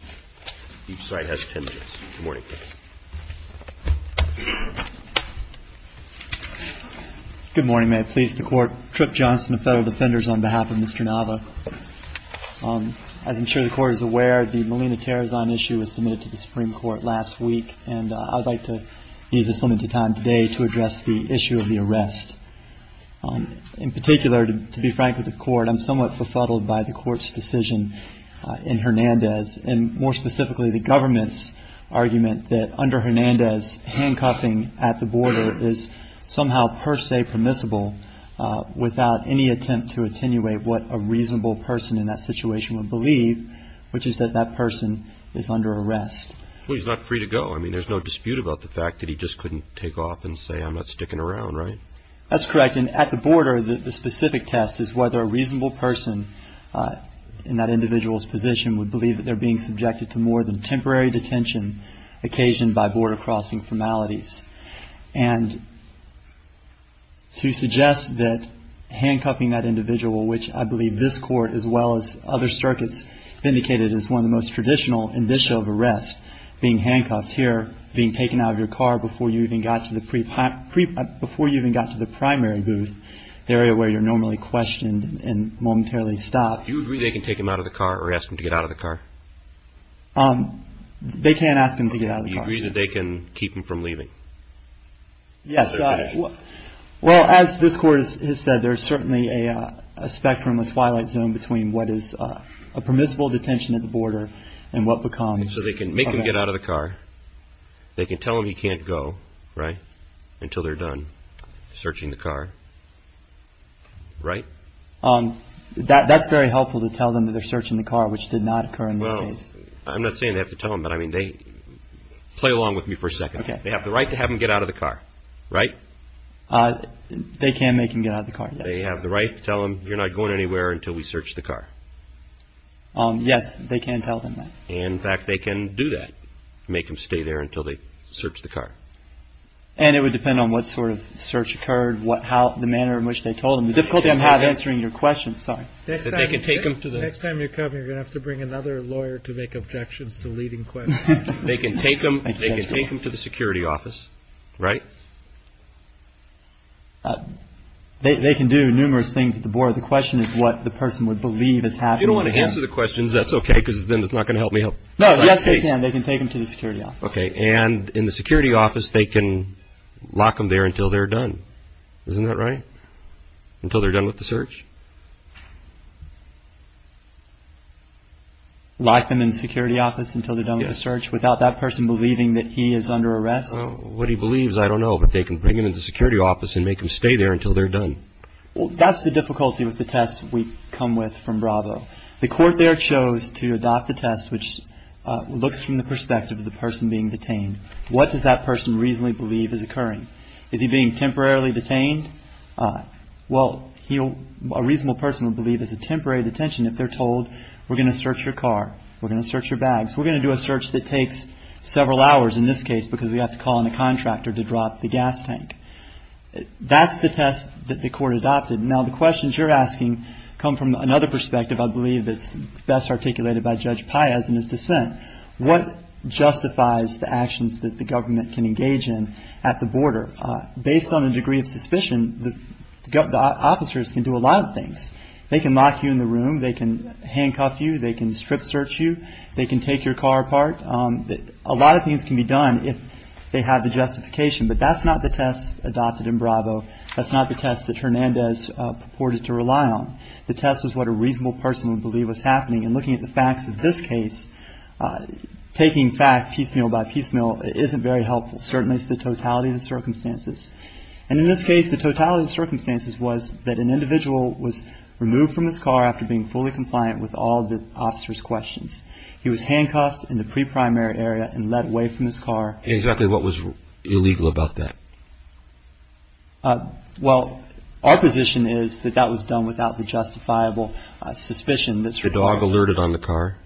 on behalf of Mr. Nava. As I'm sure the Court is aware, the Melina Tarazan issue was submitted to the Supreme Court last week, and I'd like to use this limited time today to address the issue of the arrest. In particular, to be frank with the Court, I'm somewhat befuddled by the Court's decision in Hernandez, and more specifically, the government's argument that under Hernandez, handcuffing at the border is somehow per se permissible without any attempt to attenuate what a reasonable person in that situation would believe, which is that that person is under arrest. Well, he's not free to go. I mean, there's no dispute about the fact that he just couldn't take off and say, I'm not sticking around, right? That's correct. And at the border, the specific test is whether a reasonable person in that individual's position would believe that they're being subjected to more than temporary detention occasioned by border-crossing formalities. And to suggest that handcuffing that individual, which I believe this Court, as well as other circuits, vindicated as one of the most traditional indicia of arrest, being handcuffed here, being taken out of your car before you even got to the primary booth, the area where you're normally questioned and momentarily stopped. Do you agree they can take him out of the car or ask him to get out of the car? They can't ask him to get out of the car, sir. Do you agree that they can keep him from leaving? Yes. Well, as this Court has said, there's certainly a spectrum, a twilight zone, between So they can make him get out of the car, they can tell him he can't go, right, until they're done searching the car, right? That's very helpful to tell them that they're searching the car, which did not occur in this case. Well, I'm not saying they have to tell him, but I mean, play along with me for a second. They have the right to have him get out of the car, right? They can make him get out of the car, yes. They have the right to tell him, you're not going anywhere until we search the car? Yes, they can tell them that. In fact, they can do that, make him stay there until they search the car. And it would depend on what sort of search occurred, what, how, the manner in which they told him. The difficulty I'm having in answering your question, sorry, is that they can take him to the... Next time you come here, you're going to have to bring another lawyer to make objections to leading questions. They can take him, they can take him to the security office, right? They can do numerous things at the board. The question is what the person would believe has happened to him. You don't want to answer the questions, that's okay, because then it's not going to help me out. No, yes, they can. They can take him to the security office. Okay. And in the security office, they can lock them there until they're done, isn't that right? Until they're done with the search? Lock them in the security office until they're done with the search, without that person believing that he is under arrest? What he believes, I don't know, but they can bring him into the security office and make him stay there until they're done. That's the difficulty with the test we come with from Bravo. The court there chose to adopt the test which looks from the perspective of the person being detained. What does that person reasonably believe is occurring? Is he being temporarily detained? Well, a reasonable person would believe it's a temporary detention if they're told we're going to search your car, we're going to search your bags, we're going to do a search that takes several hours in this case because we have to call in a contractor to drop the gas tank. That's the test that the court adopted. Now the questions you're asking come from another perspective I believe that's best articulated by Judge Paez in his dissent. What justifies the actions that the government can engage in at the border? Based on the degree of suspicion, the officers can do a lot of things. They can lock you in the room, they can handcuff you, they can strip search you, they can take your car apart. A lot of things can be done if they have the justification, but that's not the test adopted in Bravo. That's not the test that Hernandez purported to rely on. The test was what a reasonable person would believe was happening and looking at the facts of this case, taking fact piecemeal by piecemeal isn't very helpful, certainly it's the totality of the circumstances. And in this case, the totality of the circumstances was that an individual was removed from his car after being fully compliant with all the officer's questions. He was handcuffed in the pre-primary area and led away from his car. Exactly what was illegal about that? Well our position is that that was done without the justifiable suspicion that's required. The dog alerted on the car?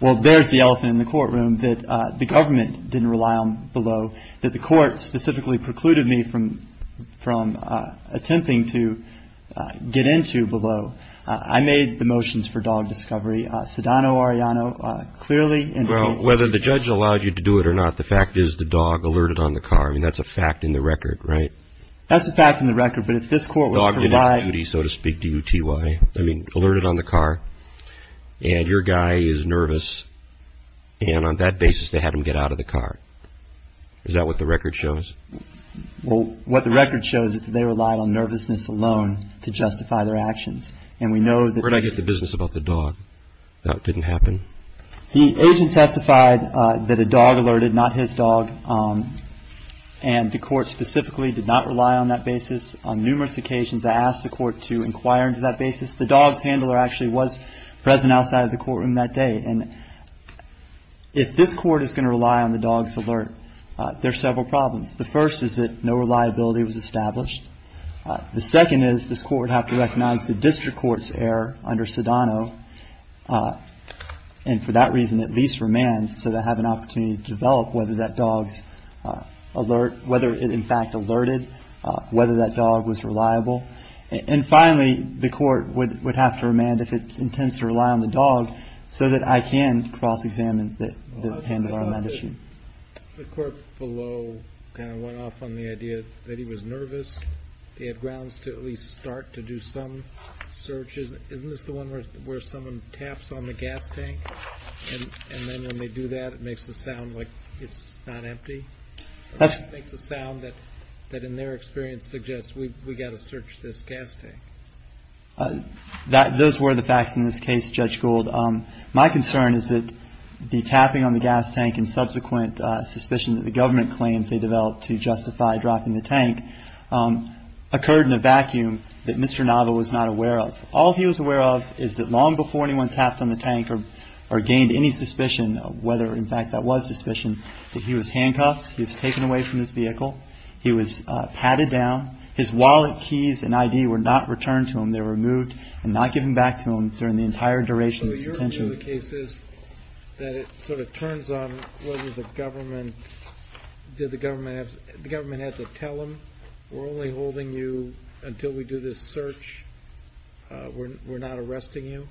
Well there's the elephant in the courtroom that the government didn't rely on below, that the court specifically precluded me from attempting to get into below. I made the motions for dog discovery, Sedano, Arellano, clearly in the case... Whether the judge allowed you to do it or not, the fact is the dog alerted on the car, I mean that's a fact in the record, right? That's a fact in the record, but if this court was to rely... Dog didn't do duty, so to speak, D-U-T-Y, I mean alerted on the car, and your guy is nervous and on that basis they had him get out of the car. Is that what the record shows? Well what the record shows is that they relied on nervousness alone to justify their actions. And we know that... Where did I get the business about the dog? That didn't happen? The agent testified that a dog alerted, not his dog, and the court specifically did not rely on that basis. On numerous occasions I asked the court to inquire into that basis. The dog's handler actually was present outside of the courtroom that day. And if this court is going to rely on the dog's alert, there are several problems. The first is that no reliability was established. The second is this court would have to recognize the district court's error under Sedano, and for that reason at least remand so they have an opportunity to develop whether that dog's alert, whether it in fact alerted, whether that dog was reliable. And finally, the court would have to remand if it intends to rely on the dog so that I can cross-examine the handler on that issue. The court below kind of went off on the idea that he was nervous. They had grounds to at least start to do some searches. Isn't this the one where someone taps on the gas tank and then when they do that it makes the sound like it's not empty? That makes the sound that in their experience suggests we've got to search this gas tank. Those were the facts in this case, Judge Gould. My concern is that the tapping on the gas tank and subsequent suspicion that the government claims they developed to justify dropping the tank occurred in a vacuum that Mr. Nava was not aware of. All he was aware of is that long before anyone tapped on the tank or gained any suspicion of whether in fact that was suspicion, that he was handcuffed, he was taken away from his vehicle, he was patted down. His wallet, keys and ID were not returned to him. They were removed and not given back to him during the entire duration of his detention. So your view of the case is that it sort of turns on whether the government had to tell him we're only holding you until we do this search, we're not arresting you.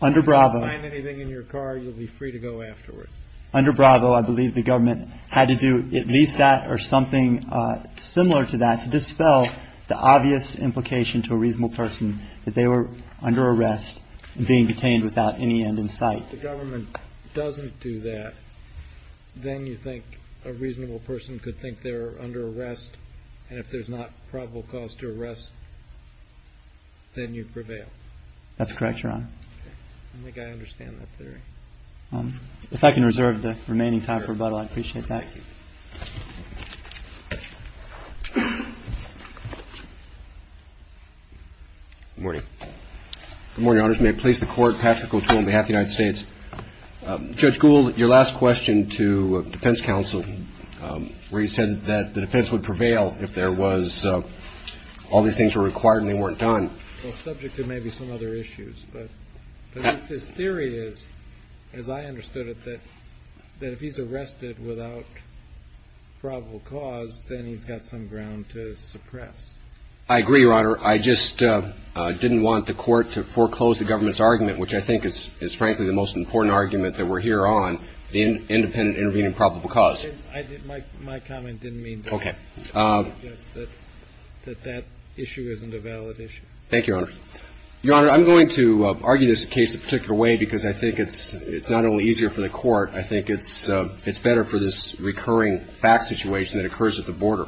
Under Bravo. If you find anything in your car you'll be free to go afterwards. Under Bravo I believe the government had to do at least that or something similar to that to dispel the obvious implication to a reasonable person that they were under arrest and being detained without any end in sight. If the government doesn't do that, then you think a reasonable person could think they were under arrest and if there's not probable cause to arrest, then you prevail. That's correct, Your Honor. I think I understand that theory. If I can reserve the remaining time for rebuttal, I'd appreciate that. Thank you. Good morning. Good morning, Your Honors. May it please the Court, Patrick O'Toole on behalf of the United States. Judge Gould, your last question to defense counsel where you said that the defense would prevail if all these things were required and they weren't done. Well, subject to maybe some other issues, but this theory is, as I understood it, that if he's arrested without probable cause, then he's got some ground to suppress. I agree, Your Honor. I just didn't want the Court to foreclose the government's argument, which I think is frankly the most important argument that we're here on, the independent intervening probable cause. My comment didn't mean that. Okay. I just suggest that that issue isn't a valid issue. Thank you, Your Honor. Your Honor, I'm going to argue this case a particular way because I think it's not only easier for the Court. I think it's better for this recurring fact situation that occurs at the border.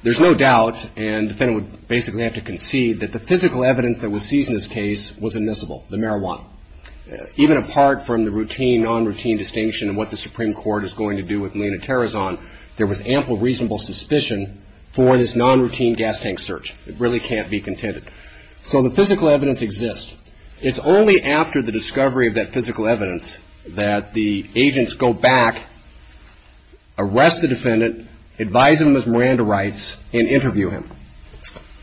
There's no doubt, and the defendant would basically have to concede, that the physical evidence that was seized in this case was admissible, the marijuana. Even apart from the routine, non-routine distinction of what the Supreme Court is going to do with Melina Terrazon, there was ample reasonable suspicion for this non-routine gas tank search. It really can't be contended. So the physical evidence exists. It's only after the discovery of that physical evidence that the agents go back, arrest the defendant, advise him of his Miranda rights, and interview him.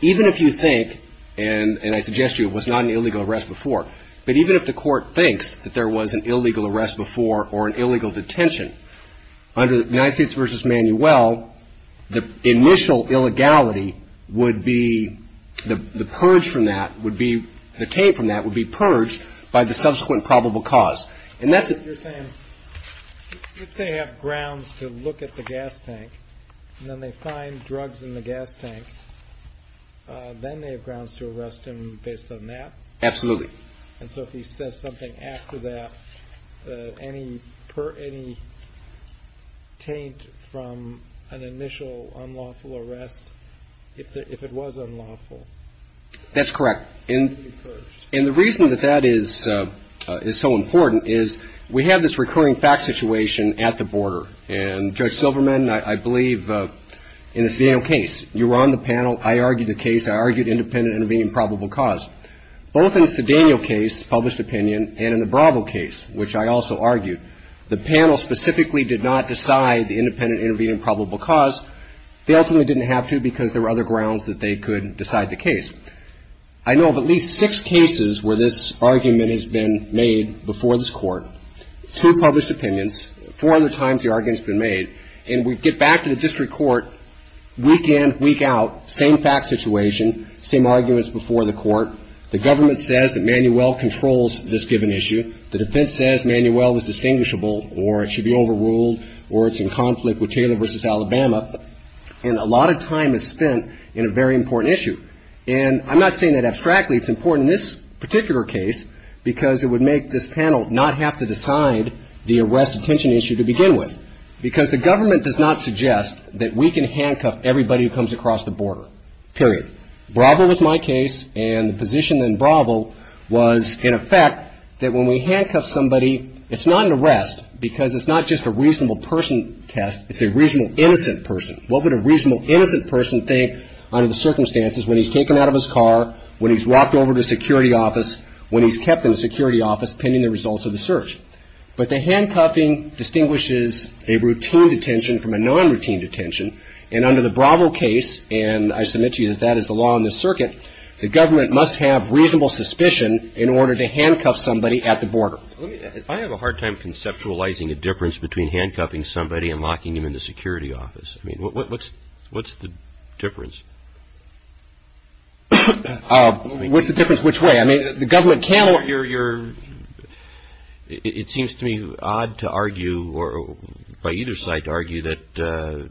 Even if you think, and I suggest to you, it was not an illegal arrest before, but even if the Court thinks that there was an illegal arrest before or an illegal detention, under the United States v. Manuel, the initial illegality would be, the purge from that would be purged by the subsequent probable cause. And that's... You're saying, if they have grounds to look at the gas tank, and then they find drugs in the gas tank, then they have grounds to arrest him based on that? Absolutely. And so if he says something after that, any taint from an initial unlawful arrest, if it was unlawful? That's correct. And the reason that that is so important is we have this recurring fact situation at the border. And Judge Silverman, I believe, in the Cedeno case, you were on the panel. I argued the case. I argued independent intervening probable cause. Both in the Cedeno case, published opinion, and in the Bravo case, which I also argued, the panel specifically did not decide the independent intervening probable cause. They ultimately didn't have to because there were other grounds that they could decide the case. I know of at least six cases where this argument has been made before this Court, two published opinions, four other times the argument's been made. And we get back to the district court, week in, week out, same fact situation, same arguments before the Court. The government says that Manuel controls this given issue. The defense says Manuel is distinguishable, or it should be overruled, or it's in conflict with Taylor v. Alabama, and a lot of time is spent in a very important issue. And I'm not saying that abstractly it's important in this particular case because it would make this panel not have to decide the arrest attention issue to begin with. Because the government does not suggest that we can handcuff everybody who comes across the border, period. Bravo was my case, and the position in Bravo was, in effect, that when we handcuff somebody, it's not an arrest because it's not just a reasonable person test, it's a reasonable innocent person. What would a reasonable innocent person think under the circumstances when he's taken out of his car, when he's walked over to the security office, when he's kept in the security office pending the results of the search? But the handcuffing distinguishes a routine detention from a non-routine detention. And under the Bravo case, and I submit to you that that is the law in this circuit, the government must have reasonable suspicion in order to handcuff somebody at the border. I have a hard time conceptualizing a difference between handcuffing somebody and locking him in the security office. I mean, what's the difference? What's the difference which way? I mean, the government can... It seems to me odd to argue, or by either side to argue, that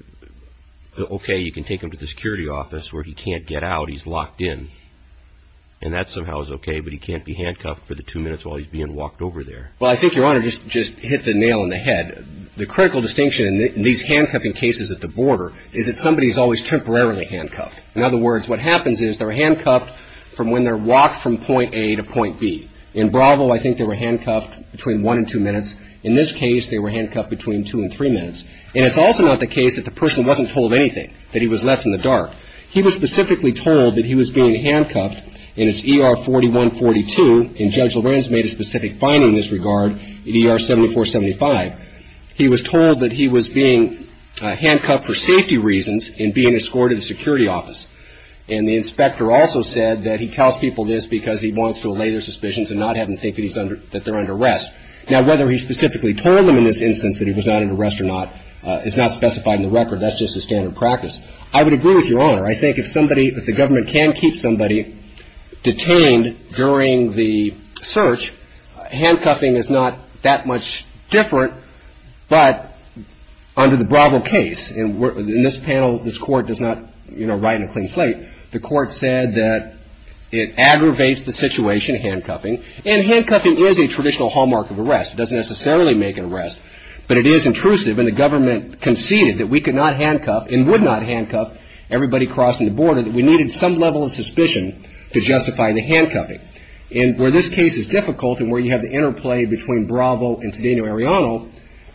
okay, you can take him to the security office where he can't get out, he's locked in. And that somehow is okay, but he can't be handcuffed for the two minutes while he's being walked over there. Well, I think Your Honor just hit the nail on the head. The critical distinction in these handcuffing cases at the border is that somebody is always temporarily handcuffed. In other words, what happens is they're handcuffed from when they're locked from point A to point B. In Bravo, I think they were handcuffed between one and two minutes. In this case, they were handcuffed between two and three minutes. And it's also not the case that the person wasn't told anything, that he was left in the dark. He was specifically told that he was being handcuffed in his ER 4142, and Judge Lorenz made a specific finding in this regard in ER 7475. He was told that he was being handcuffed for safety reasons and being escorted to the security office. And the inspector also said that he tells people this because he wants to allay their suspicions and not have them think that they're under arrest. Now whether he specifically told them in this instance that he was not under arrest or not is not specified in the record, that's just a standard practice. I would agree with Your Honor. I think if somebody, if the government can keep somebody detained during the search, handcuffing is not that much different. But under the Bravo case, in this panel, this Court does not, you know, write in a clean slate. The Court said that it aggravates the situation, handcuffing, and handcuffing is a traditional hallmark of arrest. It doesn't necessarily make an arrest, but it is intrusive, and the government conceded that we could not handcuff and would not handcuff everybody crossing the border, that we needed some level of suspicion to justify the handcuffing. And where this case is difficult and where you have the interplay between Bravo and Cedeno-Ariano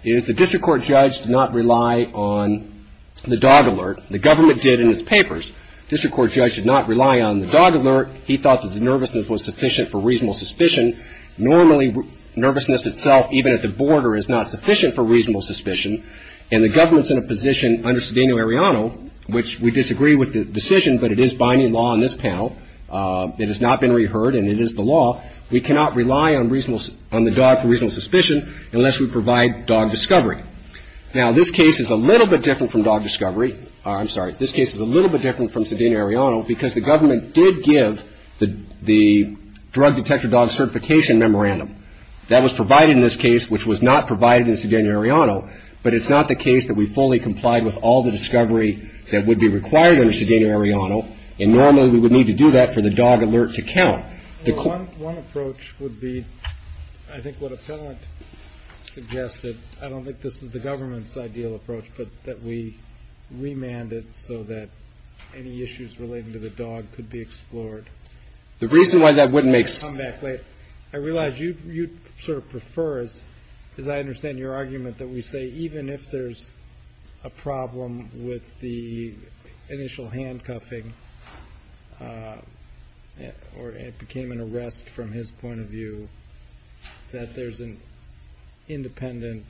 is the district court judge did not rely on the dog alert. The government did in its papers. District court judge did not rely on the dog alert. He thought that the nervousness was sufficient for reasonable suspicion. Normally, nervousness itself, even at the border, is not sufficient for reasonable suspicion, and the government's in a position under Cedeno-Ariano, which we disagree with the decision, but it is binding law in this panel, it has not been reheard, and it is the law. We cannot rely on the dog for reasonable suspicion unless we provide dog discovery. Now, this case is a little bit different from dog discovery, I'm sorry, this case is a little bit different from Cedeno-Ariano because the government did give the drug detector dog certification memorandum. That was provided in this case, which was not provided in Cedeno-Ariano, but it's not the case that we fully complied with all the discovery that would be required under Cedeno-Ariano, and normally we would need to do that for the dog alert to count. One approach would be, I think what Appellant suggested, I don't think this is the government's ideal approach, but that we remand it so that any issues relating to the dog could be explored. The reason why that wouldn't make sense. I realize you sort of prefer, as I understand your argument, that we say even if there's a problem with the initial handcuffing, or it became an arrest from his point of view, that there's an independent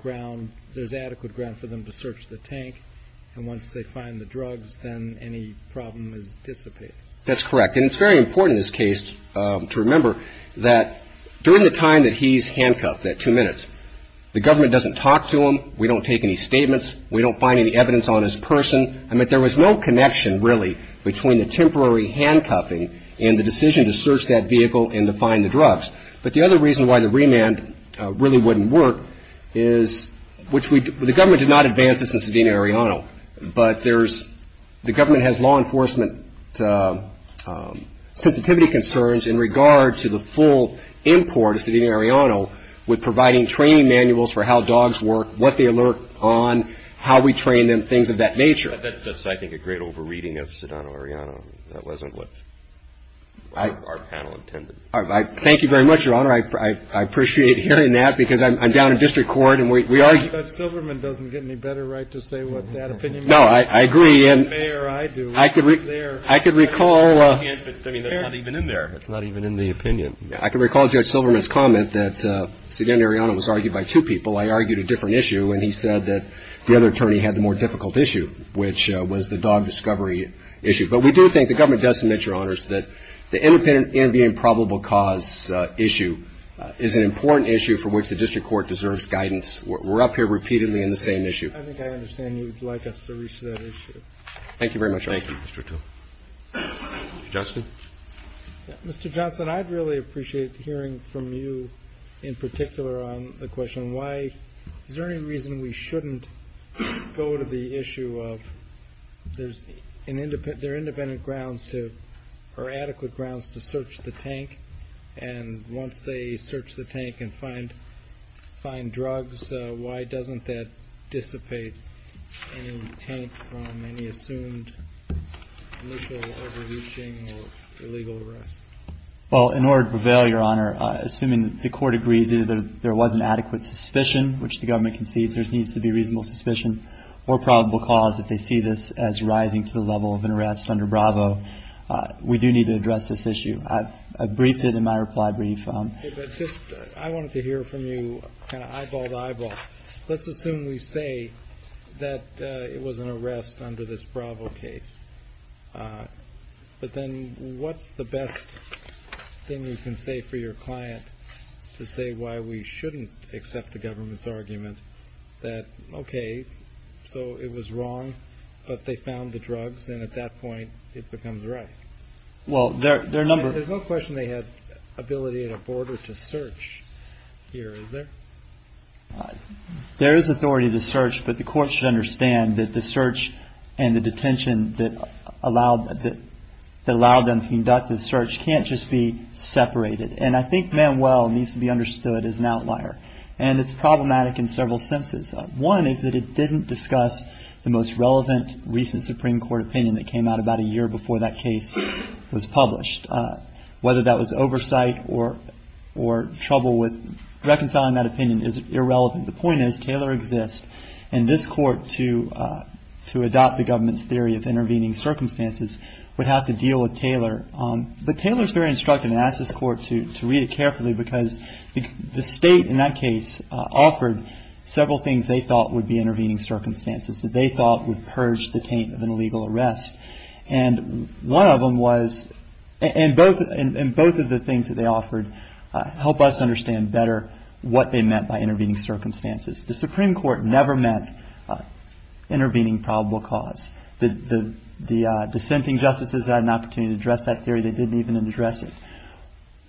ground, there's adequate ground for them to search the tank, and once they find the drugs, then any problem is dissipated. That's correct, and it's very important in this case to remember that during the time that he's handcuffed, that two minutes, the government doesn't talk to him, we don't take any statements, we don't find any evidence on his person, and that there was no connection really between the temporary handcuffing and the decision to search that vehicle and to find the drugs. But the other reason why the remand really wouldn't work is, which the government did not advance this in Sedona and Arellano, but the government has law enforcement sensitivity concerns in regard to the full import of Sedona and Arellano with providing training manuals for how dogs work, what they alert on, how we train them, things of that nature. That's just, I think, a great over-reading of Sedona and Arellano. That wasn't what our panel intended. Thank you very much, Your Honor. I appreciate hearing that, because I'm down in District Court and we argue... Judge Silverman doesn't get any better right to say what that opinion is. No, I agree. The mayor, I do. I could recall... I mean, it's not even in there. It's not even in the opinion. I could recall Judge Silverman's comment that Sedona and Arellano was argued by two people. I argued a different issue, and he said that the other attorney had the more difficult issue, which was the dog discovery issue. But we do think, the government does submit, Your Honors, that the independent and the improbable cause issue is an important issue for which the District Court deserves guidance. We're up here with you. We're up here with you. We're up here with you. We're up here with you. I think I understand you'd like us to reach to that issue. Thank you very much. Thank you, Mr. Tung. Mr. Johnson? Mr. Johnson, I'd really appreciate hearing from you, in particular, on the question, why... Is there any reason we shouldn't go to the issue of there's an... There are independent grounds to, or adequate grounds to search the tank, and once they do, why doesn't that dissipate any intent from any assumed initial overreaching or illegal arrest? Well, in order to prevail, Your Honor, assuming the court agrees either there was an adequate suspicion, which the government concedes there needs to be reasonable suspicion, or probable cause that they see this as rising to the level of an arrest under Bravo, we do need to address this issue. I've briefed it in my reply brief. I wanted to hear from you, kind of eyeball to eyeball. Let's assume we say that it was an arrest under this Bravo case, but then what's the best thing you can say for your client to say why we shouldn't accept the government's argument that, okay, so it was wrong, but they found the drugs, and at that point, it becomes right? Well, there are a number... There is authority to search, but the court should understand that the search and the detention that allowed them to conduct the search can't just be separated, and I think Manuel needs to be understood as an outlier, and it's problematic in several senses. One is that it didn't discuss the most relevant recent Supreme Court opinion that came out about a year before that case was published. Whether that was oversight or trouble with reconciling that opinion is irrelevant. The point is, Taylor exists, and this court, to adopt the government's theory of intervening circumstances, would have to deal with Taylor, but Taylor's very instructive, and I ask this court to read it carefully, because the state, in that case, offered several things they thought would be intervening circumstances, that they thought would purge the taint of an illegal arrest, and one of them was, and both of the things that they offered help us understand better what they meant by intervening circumstances. The Supreme Court never meant intervening probable cause. The dissenting justices had an opportunity to address that theory. They didn't even address it.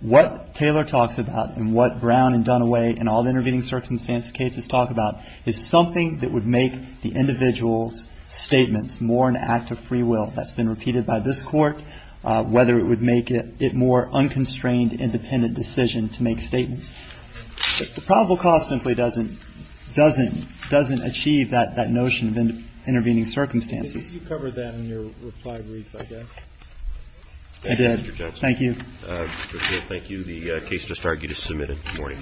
What Taylor talks about, and what Brown and Dunaway, and all the intervening circumstances cases talk about, is something that would make the individual's statements more an act of free will. That's been repeated by this Court, whether it would make it more unconstrained, independent decision to make statements. But the probable cause simply doesn't achieve that notion of intervening circumstances. Roberts, did you cover that in your reply brief, I guess? I did. Thank you. Mr. Taylor, thank you. The case just argued is submitted. Good morning.